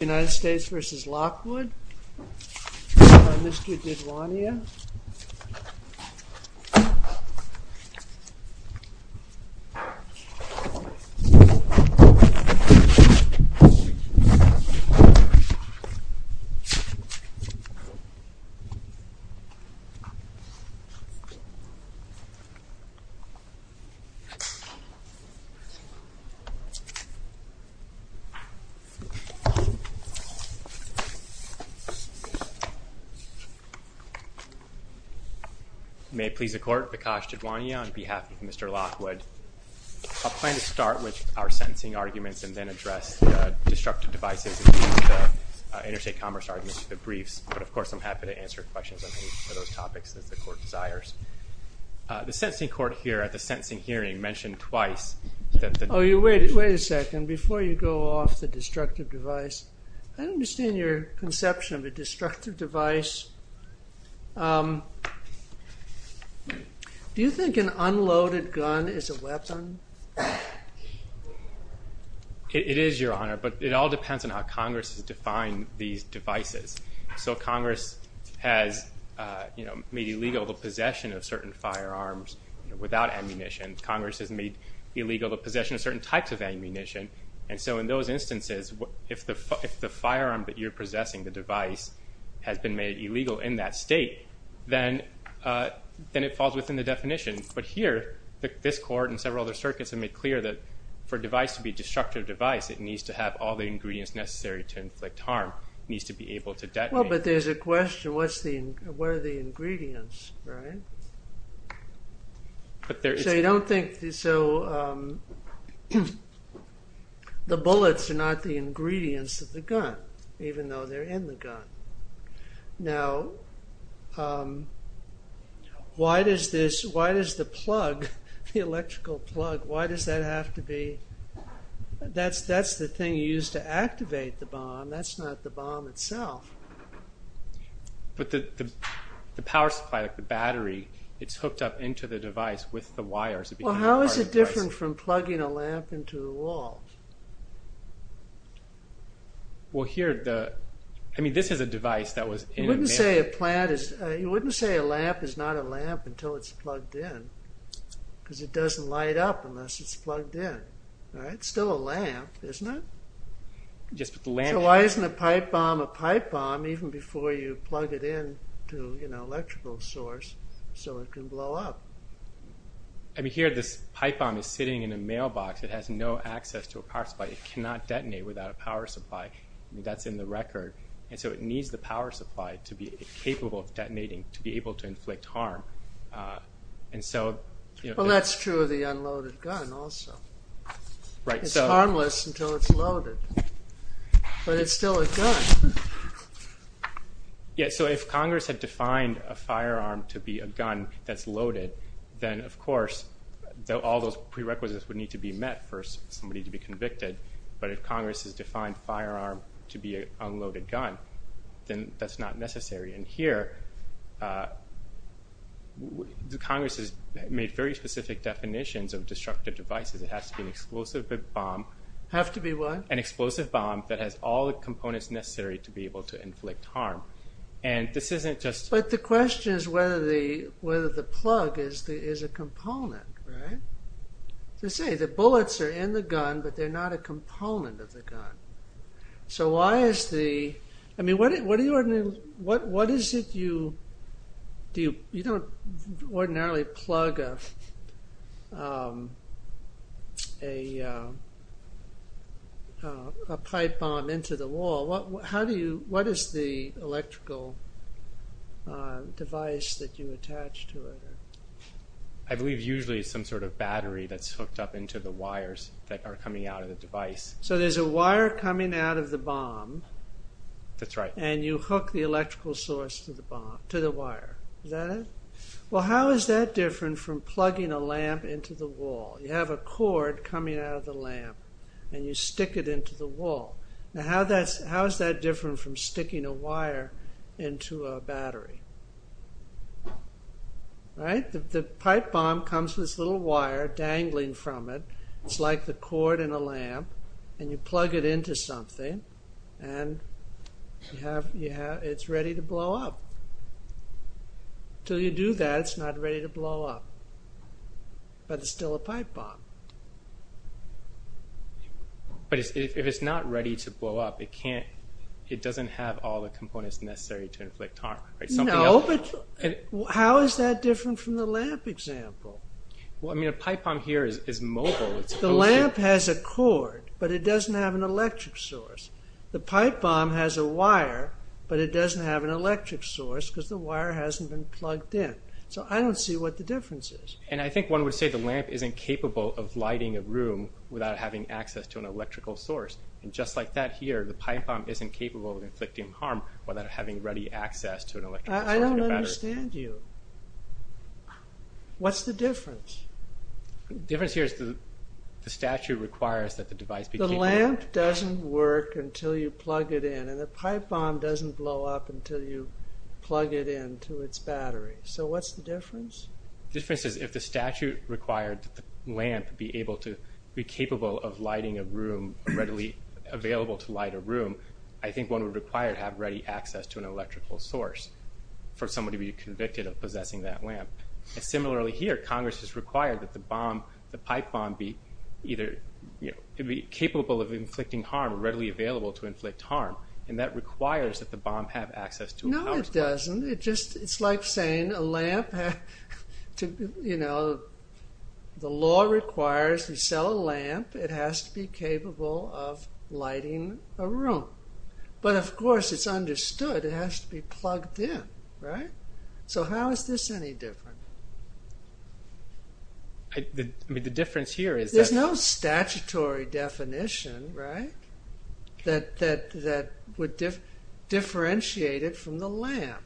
United States v. Lockwood by Mr. Didwania May it please the court, Vikash Didwania on behalf of Mr. Lockwood. I plan to start with our sentencing arguments and then address the destructive devices and use the interstate commerce arguments for the briefs, but of course I'm happy to answer questions on any of those topics that the court desires. The sentencing court here at the sentencing hearing mentioned twice that the... Wait a second. Before you go off the destructive device, I don't understand your conception of a destructive device. Do you think an unloaded gun is a weapon? It is your honor, but it all depends on how Congress has defined these devices. So Congress has made illegal the possession of certain firearms without ammunition. Congress has made illegal the possession of certain types of ammunition. And so in those instances, if the firearm that you're possessing, the device, has been made illegal in that state, then it falls within the definition. But here, this court and several other circuits have made clear that for a device to be a destructive device, it needs to have all the ingredients necessary to inflict harm. It needs to be able to detonate. Well, but there's a question. What are the bullets? The bullets are not the ingredients of the gun, even though they're in the gun. Now why does the plug, the electrical plug, why does that have to be... That's the thing you use to activate the bomb. That's not the bomb itself. But the power supply, the battery, it's hooked up into the device with the wires. Well, how is it different from plugging a lamp into a wall? Well, here, the... I mean, this is a device that was... You wouldn't say a plant is... You wouldn't say a lamp is not a lamp until it's plugged in, because it doesn't light up unless it's plugged in, right? It's still a lamp, isn't it? Just with the lamp... So why isn't a pipe bomb a pipe bomb even before you plug it in to an electrical source so it can blow up? I mean, here, this pipe bomb is sitting in a mailbox. It has no access to a power supply. It cannot detonate without a power supply. That's in the record. And so it needs the power supply to be capable of detonating, to be able to inflict harm. And so... Well, that's true of the unloaded gun also. Right, so... It's harmless until it's loaded. But it's still a gun. Yeah, so if Congress had defined a firearm to be a gun that's loaded, then, of course, all those prerequisites would need to be met for somebody to be convicted. But if Congress has defined firearm to be an unloaded gun, then that's not necessary. And here, Congress has made very specific definitions of destructive devices. It has to be an explosive bomb... Have to be what? An explosive bomb that has all the components necessary to be able to inflict harm. And this isn't just... But the question is whether the plug is a component, right? They say the bullets are in the gun, but they're not a component of the gun. So why is the... What is it you... You don't ordinarily plug a pipe bomb into the wall. How do you... What is the electrical device that you attach to it? I believe usually it's some sort of battery that's hooked up into the wires that are coming out of the device. So there's a wire coming out of the bomb... And you hook the electrical source to the wire. Is that it? Well, how is that different from plugging a lamp into the wall? You have a cord coming out of the lamp, and you stick it into the wall. Now, how is that different from sticking a wire into a battery? Right? The pipe bomb comes with this little wire dangling from it. It's like the cord in a lamp. And you plug it into something. And it's ready to blow up. Until you do that, it's not ready to blow up. But it's still a pipe bomb. But if it's not ready to blow up, it can't... It doesn't have all the components necessary to inflict harm. No, but how is that different from the lamp example? Well, I mean, a pipe bomb here is mobile. The lamp has a cord, but it doesn't have an electric source. The pipe bomb has a wire, but it doesn't have an electric source because the wire hasn't been plugged in. So I don't see what the difference is. And I think one would say the lamp isn't capable of lighting a room without having access to an electrical source. And just like that here, the pipe bomb isn't capable of inflicting harm without having ready access to an electrical source. I don't understand you. What's the difference? The difference here is the statute requires that the device be capable... The lamp doesn't work until you plug it in, and the pipe bomb doesn't blow up until you plug it in to its battery. So what's the difference? The difference is if the statute required the lamp be able to... be capable of lighting a room, readily available to light a room, I think one would require to have ready access to an electrical source for somebody to be convicted of possessing that lamp. And similarly here, Congress has required that the bomb, the pipe bomb, be either capable of inflicting harm or readily available to inflict harm. And that requires that the bomb have access to a power source. No, it doesn't. It's like saying a lamp... The law requires you sell a lamp. It has to be capable of lighting a room. But of course, it's understood it has to be plugged in, right? So how is this any different? I mean, the difference here is that... There's no statutory definition, right, that would differentiate it from the lamp.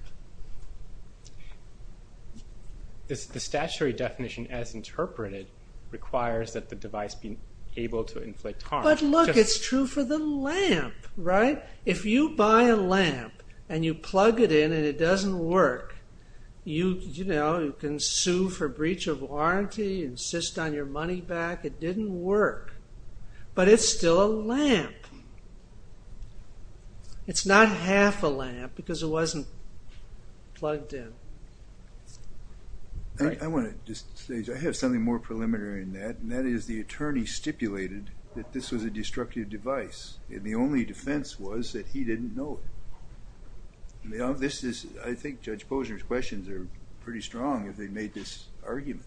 The statutory definition, as interpreted, requires that the device be able to inflict harm. But look, it's true for the lamp, right? If you buy a lamp and you plug it in and it doesn't work, you can sue for breach of warranty, insist on your money back, it didn't work, but it's still a lamp. It's not half a lamp because it wasn't plugged in. I want to just say, I have something more preliminary than that, and that is the attorney stipulated that this was a destructive device. And the only defense was that he didn't know it. I think Judge Posner's questions are pretty strong if they made this argument.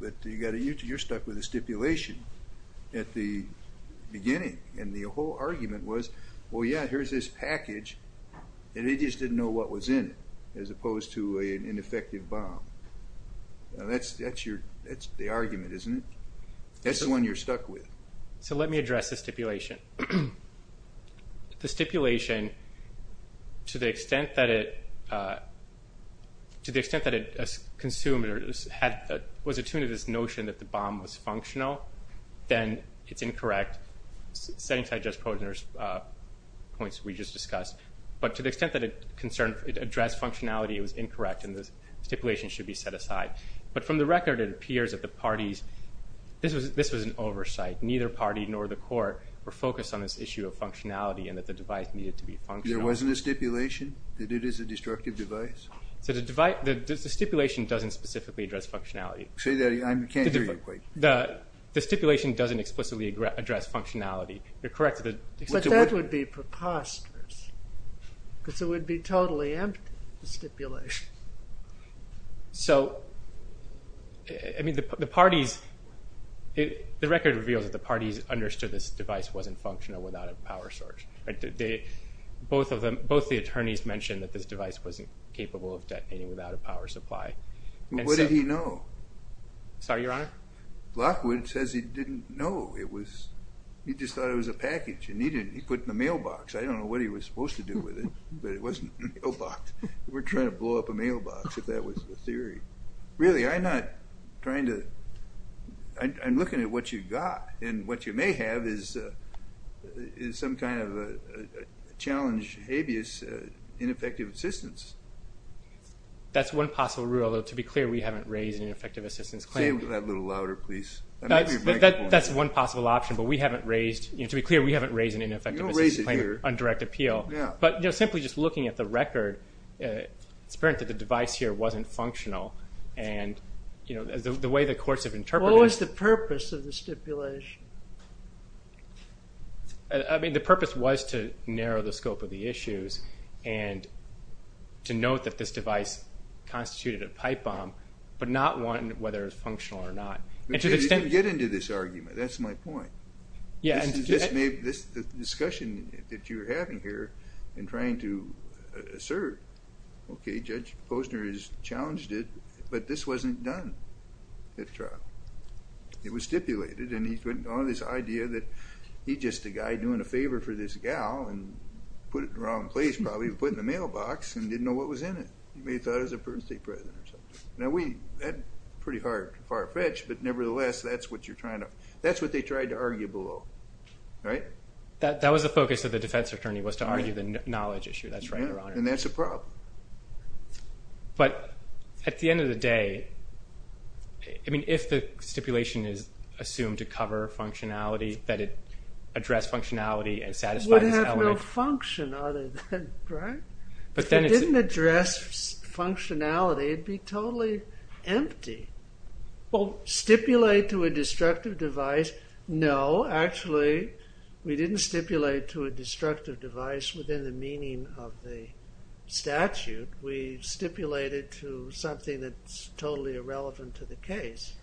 But you're stuck with a stipulation at the beginning, and the whole argument was, well, yeah, here's this package, and they just didn't know what was in it, as opposed to an ineffective bomb. That's the argument, isn't it? That's the one you're stuck with. So let me address the stipulation. The stipulation, to the extent that it consumed or was attuned to this notion that the bomb was functional, then it's incorrect, setting aside Judge Posner's points we just discussed. But to the extent that it addressed functionality, it was incorrect, and the stipulation should be set aside. But from the record, it appears that the parties, this was an oversight, neither party nor the court were focused on this issue of functionality and that the device needed to be functional. There wasn't a stipulation that it is a destructive device? The stipulation doesn't specifically address functionality. Say that again, I can't hear you quite. The stipulation doesn't explicitly address functionality. You're correct. But that would be preposterous, because it would be totally empty, the stipulation. So the record reveals that the parties understood this device wasn't functional without a power source. Both the attorneys mentioned that this device wasn't capable of detonating without a power supply. What did he know? Sorry, Your Honor? Lockwood says he didn't know. He just thought it was a package, and he put it in the mailbox. I don't know what he was supposed to do with it, but it wasn't in the mailbox. We're trying to blow up a mailbox, if that was the theory. Really, I'm not trying to... I'm looking at what you've got, and what you may have is some kind of a challenge, habeas, ineffective assistance. That's one possible rule, although to be clear, we haven't raised an ineffective assistance claim. Say that a little louder, please. That's one possible option, but we haven't raised... To be clear, we haven't raised an ineffective assistance claim on direct appeal. But simply just looking at the record, it's apparent that the device here wasn't functional. The way the courts have interpreted it... What was the purpose of the stipulation? The purpose was to narrow the scope of the issues and to note that this device constituted a pipe bomb, but not one whether it was functional or not. You can get into this argument. That's my point. This discussion that you're having here and trying to assert, okay, Judge Posner has challenged it, but this wasn't done at trial. It was stipulated, and he's got this idea that he's just a guy doing a favor for this gal and put it in the wrong place, probably, and put it in the mailbox and didn't know what was in it. You may have thought it was a birthday present or something. Now, that's pretty far-fetched, but nevertheless, that's what you're trying to... That's what you're trying to argue below, right? That was the focus of the defense attorney was to argue the knowledge issue. That's right, Your Honor. Yeah, and that's a problem. But at the end of the day, I mean, if the stipulation is assumed to cover functionality, that it addressed functionality and satisfied this element... It would have no function other than, right? If it didn't address functionality, it'd be totally empty. Well, stipulate to a destructive device. No, actually, we didn't stipulate to a destructive device within the meaning of the statute. We stipulated to something that's totally irrelevant to the case.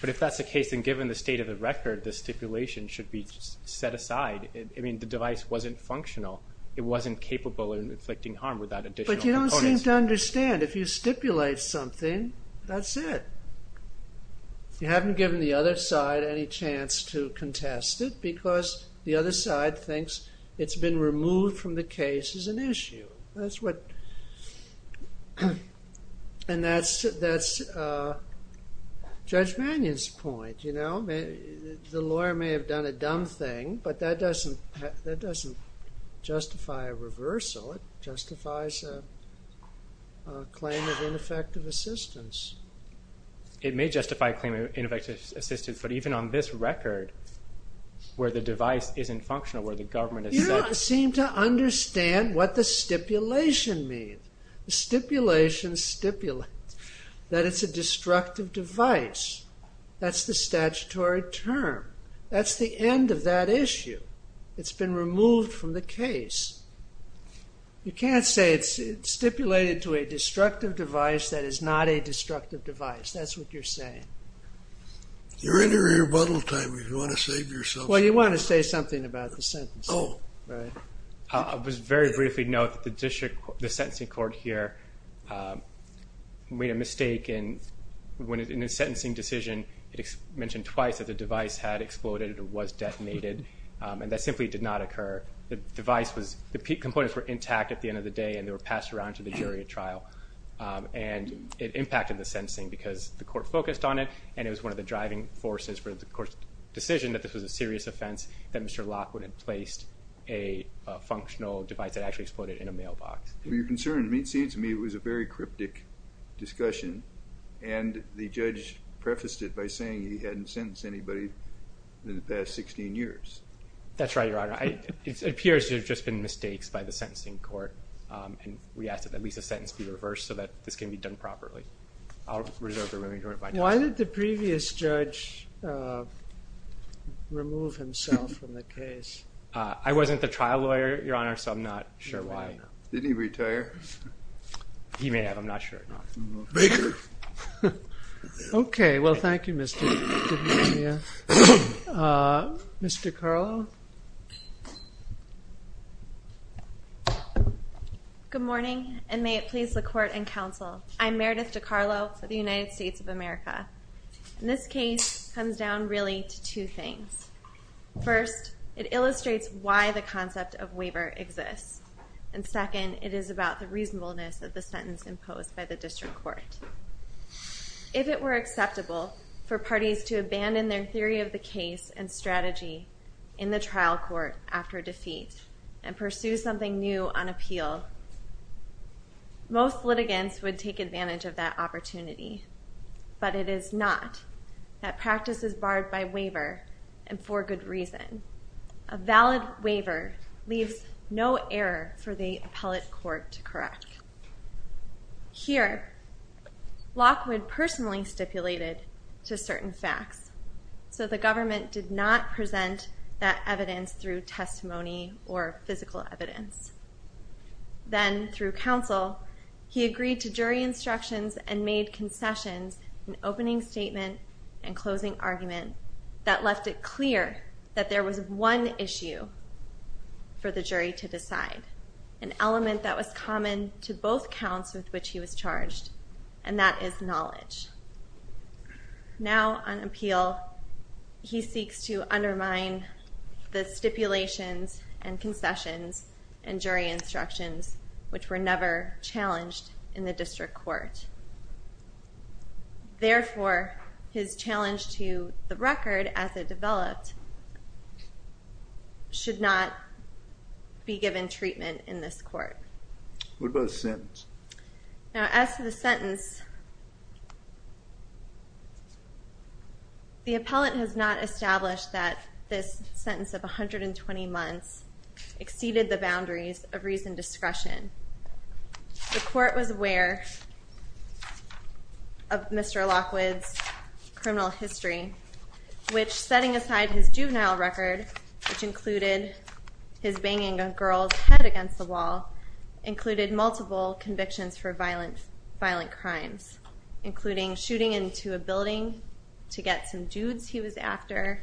But if that's the case, then given the state of the record, the stipulation should be set aside. I mean, the device wasn't functional. It wasn't capable of inflicting harm without additional components. But you don't seem to understand. If you stipulate something, that's it. You haven't given the other side any chance to contest it because the other side thinks it's been removed from the case as an issue. That's what... And that's Judge Mannion's point, you know? The lawyer may have done a dumb thing, but that doesn't justify a reversal. It justifies a claim of ineffective assistance. It may justify a claim of ineffective assistance, but even on this record, where the device isn't functional, where the government has said... You don't seem to understand what the stipulation means. The stipulation stipulates that it's a destructive device. That's the statutory term. That's the end of that issue. It's been removed from the case. You can't say it's stipulated to a destructive device that is not a destructive device. That's what you're saying. You're in your rebuttal time if you want to save yourself. Well, you want to say something about the sentencing, right? I'll just very briefly note that the sentencing court here made a mistake in the sentencing decision. It mentioned twice that the device had exploded or was detonated, and that simply did not occur. The device was... The components were intact at the end of the day, and they were passed around to the jury at trial, and it impacted the sentencing because the court focused on it, and it was one of the driving forces for the court's decision that this was a serious offense, that Mr. Lockwood had placed a functional device that actually exploded in a mailbox. You're concerned. It seems to me it was a very cryptic discussion, and the judge prefaced it by saying he hadn't sentenced anybody in the past 16 years. That's right, Your Honor. It appears there have just been mistakes by the sentencing court, and we ask that at least the sentence be reversed so that this can be done properly. I'll reserve the remaining time. Why did the previous judge remove himself from the case? I wasn't the trial lawyer, Your Honor, so I'm not sure why. Didn't he retire? He may have. I'm not sure. Baker. Okay. Well, thank you, Mr. DiMaria. Ms. DeCarlo. Good morning, and may it please the court and counsel, I'm Meredith DeCarlo for the United States of America. This case comes down really to two things. First, it illustrates why the concept of waiver exists, and second, it is about the reasonableness of the sentence imposed by the district court. If it were acceptable for parties to abandon their theory of the case and strategy in the trial court after defeat and pursue something new on appeal, most litigants would take advantage of that opportunity. But it is not. That practice is barred by waiver and for good reason. A valid waiver leaves no error for the appellate court to correct. Here, Lockwood personally stipulated to certain facts, so the government did not present that evidence through testimony or physical evidence. Then, through counsel, he agreed to jury instructions and made concessions in opening statement and closing argument that left it clear that there was one issue for the jury to decide, an element that was common to both counts with which he was charged, and that is knowledge. Now, on appeal, he seeks to undermine the stipulations and concessions and jury instructions, which were never challenged in the district court. Therefore, his challenge to the record as it developed should not be given treatment in this court. What about the sentence? Now, as to the sentence, the appellate has not established that this sentence of 120 months exceeded the boundaries of reasoned discretion. The court was aware of Mr. Lockwood's criminal history, which, setting aside his juvenile record, which included his banging a girl's head against the wall, included multiple convictions for violent crimes, including shooting into a building to get some dudes he was after,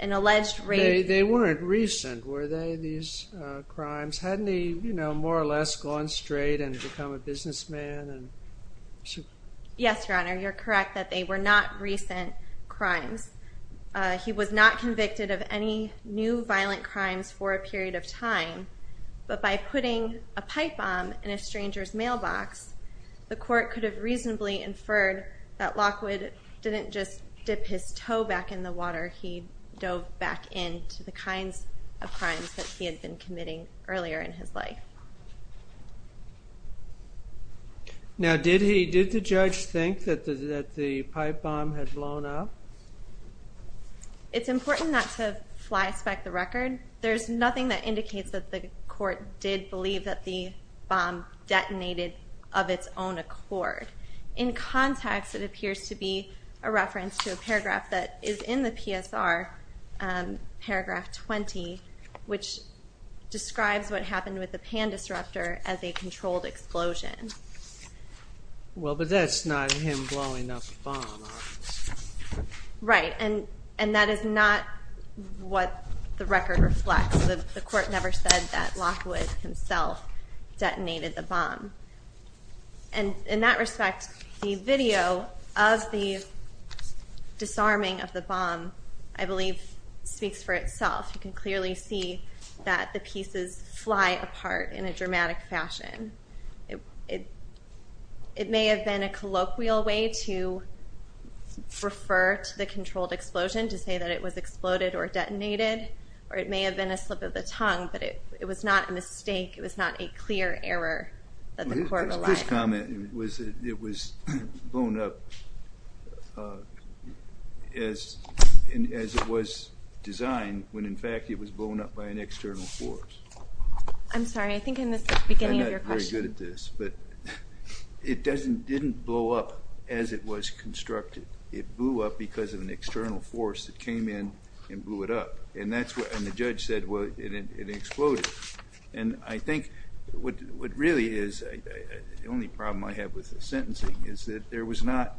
an alleged rape. They weren't recent, were they, these crimes? Hadn't he more or less gone straight and become a businessman? Yes, Your Honor, you're correct that they were not recent crimes. He was not convicted of any new violent crimes for a period of time, but by putting a pipe bomb in a stranger's mailbox, the court could have reasonably inferred that Lockwood didn't just dip his toe back in the water, he dove back into the kinds of crimes that he had been committing earlier in his life. Now, did the judge think that the pipe bomb had blown up? It's important not to flyspeck the record. There's nothing that indicates that the court did believe that the bomb detonated of its own accord. In context, it appears to be a reference to a paragraph that is in the PSR, Paragraph 20, which describes what happened with the Pan Disruptor as a controlled explosion. Well, but that's not him blowing up a bomb, obviously. Right, and that is not what the record reflects. The court never said that Lockwood himself detonated the bomb. In that respect, the video of the disarming of the bomb, I believe, speaks for itself. You can clearly see that the pieces fly apart in a dramatic fashion. It may have been a colloquial way to refer to the controlled explosion to say that it was exploded or detonated, or it may have been a slip of the tongue, but it was not a mistake. It was not a clear error that the court relied on. This comment was that it was blown up as it was designed when, in fact, it was blown up by an external force. I'm sorry. I think I missed the beginning of your question. I'm not very good at this, but it didn't blow up as it was constructed. It blew up because of an external force that came in and blew it up, and the judge said it exploded. I think what really is the only problem I have with the sentencing is that there was not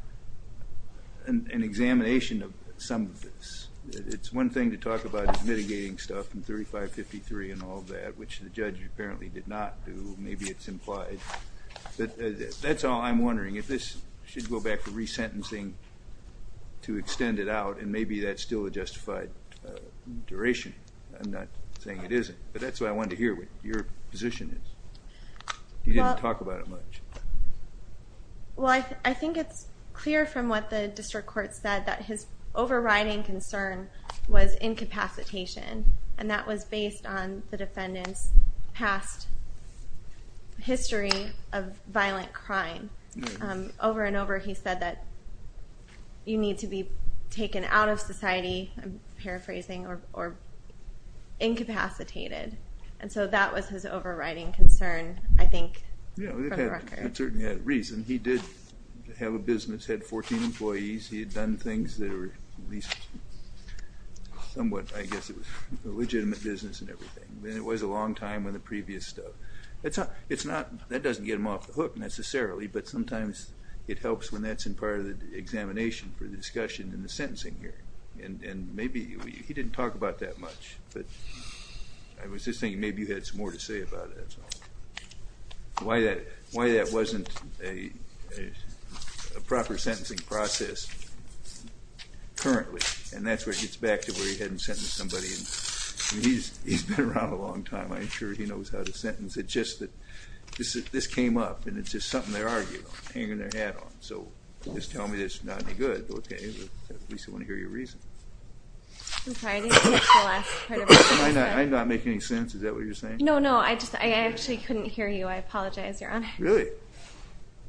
an examination of some of this. It's one thing to talk about mitigating stuff in 3553 and all that, which the judge apparently did not do. Maybe it's implied. That's all I'm wondering. If this should go back to resentencing to extend it out, and maybe that's still a justified duration. I'm not saying it isn't, but that's why I wanted to hear what your position is. You didn't talk about it much. Well, I think it's clear from what the district court said that his overriding concern was incapacitation, and that was based on the defendant's past history of violent crime. Over and over he said that you need to be taken out of society, I'm paraphrasing, or incapacitated, and so that was his overriding concern, I think, for the record. He certainly had a reason. He did have a business, had 14 employees. He had done things that were somewhat, I guess, legitimate business and everything. It was a long time in the previous stuff. That doesn't get him off the hook necessarily, but sometimes it helps when that's in part of the examination for the discussion in the sentencing hearing, and maybe he didn't talk about that much, but I was just thinking maybe you had some more to say about that. Why that wasn't a proper sentencing process currently, and that's where it gets back to where he hadn't sentenced somebody. He's been around a long time. I'm sure he knows how to sentence. It's just that this came up, and it's just something they're arguing, hanging their hat on, so just tell me that it's not any good. At least I want to hear your reason. I'm sorry. I didn't catch the last part of that. I'm not making any sense. Is that what you're saying? No, no. I actually couldn't hear you. I apologize, Your Honor. Really?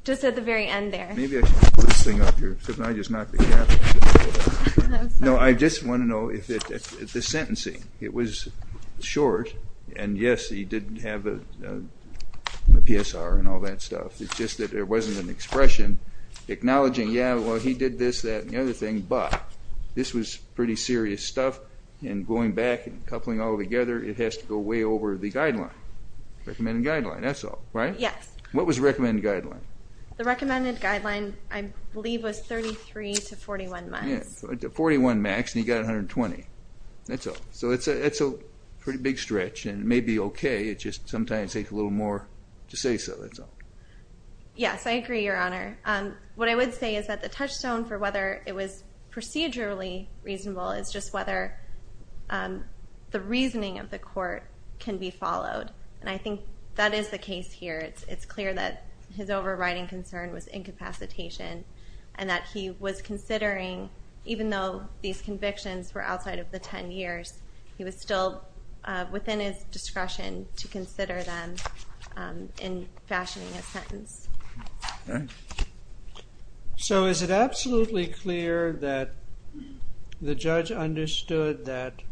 Just at the very end there. Maybe I should pull this thing up here. I just knocked the cap. No, I just want to know if the sentencing, it was short, and, yes, he did have a PSR and all that stuff. It's just that there wasn't an expression acknowledging, yeah, well, he did this, that, and the other thing, but this was pretty serious stuff, and going back and coupling all together, it has to go way over the guideline, recommended guideline. That's all, right? Yes. What was the recommended guideline? The recommended guideline, I believe, was 33 to 41 months. Yeah, 41 max, and he got 120. That's all. So it's a pretty big stretch, and it may be okay. It just sometimes takes a little more to say so. That's all. Yes, I agree, Your Honor. What I would say is that the touchstone for whether it was procedurally reasonable is just whether the reasoning of the court can be followed, and I think that is the case here. It's clear that his overriding concern was incapacitation and that he was considering, even though these convictions were outside of the 10 years, he was still within his discretion to consider them in fashioning a sentence. Okay. So is it absolutely clear that the judge understood that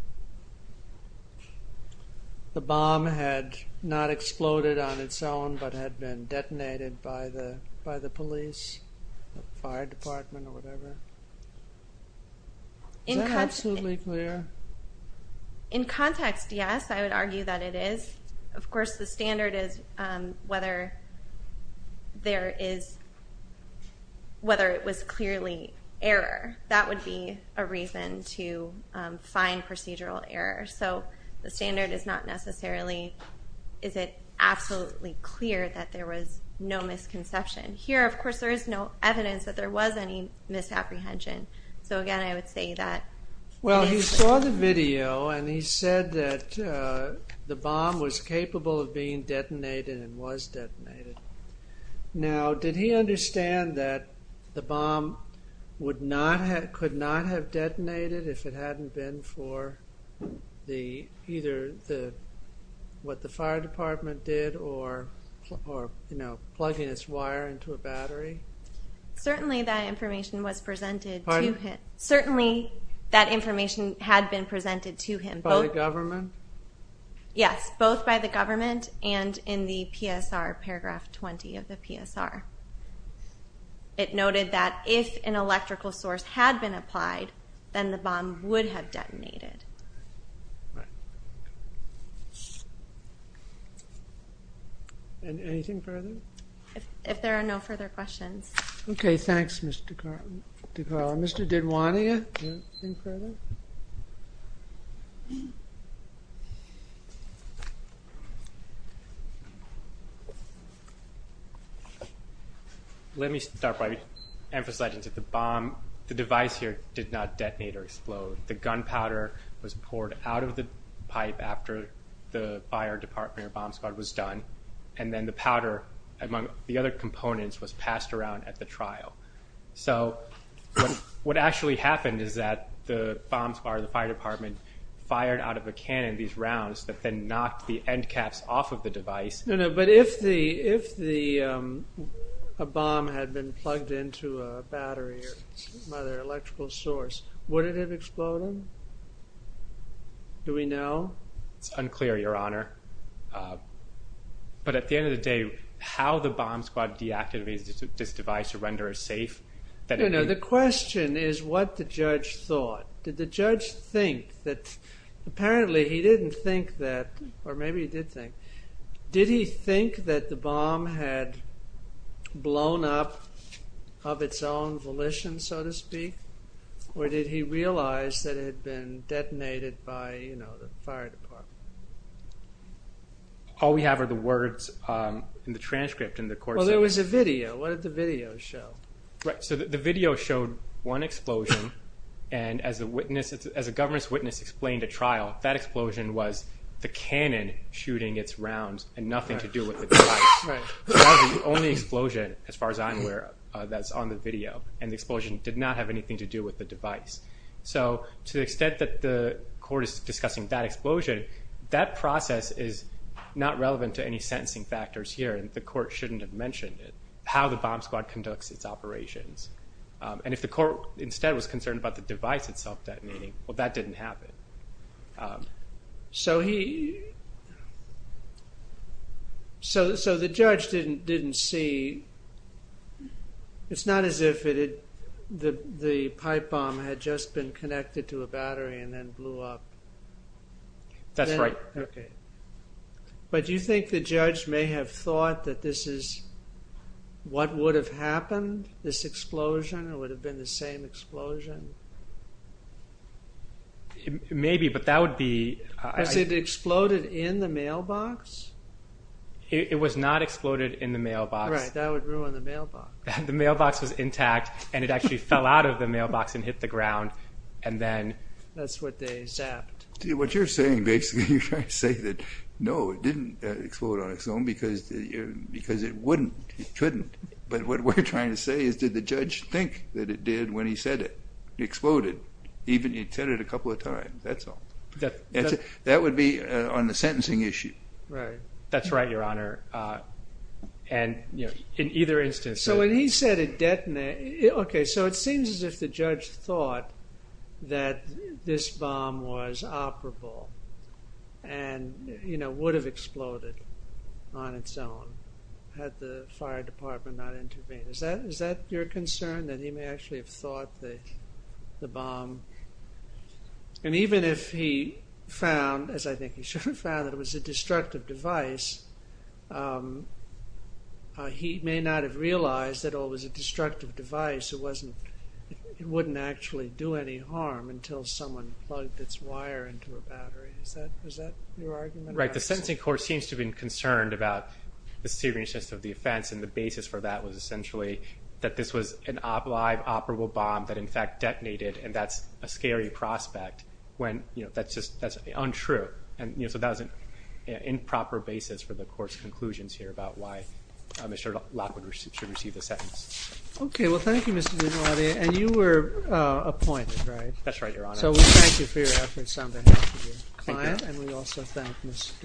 the bomb had not exploded on its own but had been detonated by the police, the fire department, or whatever? Is that absolutely clear? In context, yes, I would argue that it is. Of course, the standard is whether it was clearly error. That would be a reason to find procedural error. So the standard is not necessarily is it absolutely clear that there was no misconception. Here, of course, there is no evidence that there was any misapprehension. So, again, I would say that. Well, he saw the video and he said that the bomb was capable of being detonated and was detonated. Now, did he understand that the bomb could not have detonated if it hadn't been for either what the fire department did or plugging its wire into a battery? Certainly that information was presented to him. Pardon? Certainly that information had been presented to him. By the government? Yes, both by the government and in the PSR, paragraph 20 of the PSR. It noted that if an electrical source had been applied, then the bomb would have detonated. Anything further? If there are no further questions. Okay, thanks, Mr. DeCarlo. Mr. Didwania, anything further? Let me start by emphasizing that the bomb, the device here, did not detonate or explode. The gunpowder was poured out of the pipe after the fire department or bomb squad was done, and then the powder, among the other components, was passed around at the trial. So what actually happened is that the bomb squad or the fire department fired out of a cannon these rounds that then knocked the end caps off of the device. No, no, but if a bomb had been plugged into a battery by their electrical source, would it have exploded? Do we know? It's unclear, Your Honor, but at the end of the day, how the bomb squad deactivated this device to render it safe? No, no, the question is what the judge thought. Did the judge think that apparently he didn't think that, or maybe he did think, did he think that the bomb had blown up of its own volition, so to speak, or did he realize that it had been detonated by, you know, the fire department? All we have are the words in the transcript in the court. Well, there was a video. What did the video show? Right, so the video showed one explosion, and as a government witness explained at trial, that explosion was the cannon shooting its rounds and nothing to do with the device. Right. That was the only explosion, as far as I'm aware, that's on the video, and the explosion did not have anything to do with the device. So to the extent that the court is discussing that explosion, that process is not relevant to any sentencing factors here, and the court shouldn't have mentioned it, how the bomb squad conducts its operations. And if the court instead was concerned about the device itself detonating, well, that didn't happen. So he... So the judge didn't see... It's not as if the pipe bomb had just been connected to a battery and then blew up. That's right. Okay. But do you think the judge may have thought that this is what would have happened, this explosion? It would have been the same explosion? Maybe, but that would be... Was it exploded in the mailbox? It was not exploded in the mailbox. Right, that would ruin the mailbox. The mailbox was intact, and it actually fell out of the mailbox and hit the ground, and then... That's what they zapped. What you're saying, basically, you're trying to say that, no, it didn't explode on its own because it wouldn't, it couldn't. But what we're trying to say is, did the judge think that it did when he said it? It exploded, even if he'd said it a couple of times, that's all. That would be on the sentencing issue. That's right, Your Honor. And in either instance... So when he said it detonated... Okay, so it seems as if the judge thought that this bomb was operable and would have exploded on its own had the fire department not intervened. Is that your concern, that he may actually have thought the bomb... And even if he found, as I think he should have found, that it was a destructive device, he may not have realized that, oh, it was a destructive device, it wouldn't actually do any harm until someone plugged its wire into a battery. Is that your argument? Right, the sentencing court seems to have been concerned about the seriousness of the offense, and the basis for that was essentially that this was a live, operable bomb that, in fact, detonated, and that's a scary prospect when, you know, that's untrue. And, you know, so that was an improper basis for the court's conclusions here about why Mr. Lockwood should receive the sentence. Okay, well, thank you, Mr. DiNardia. And you were appointed, right? That's right, Your Honor. So we thank you for your efforts on behalf of your client. Thank you. And we also thank Ms. DuPont.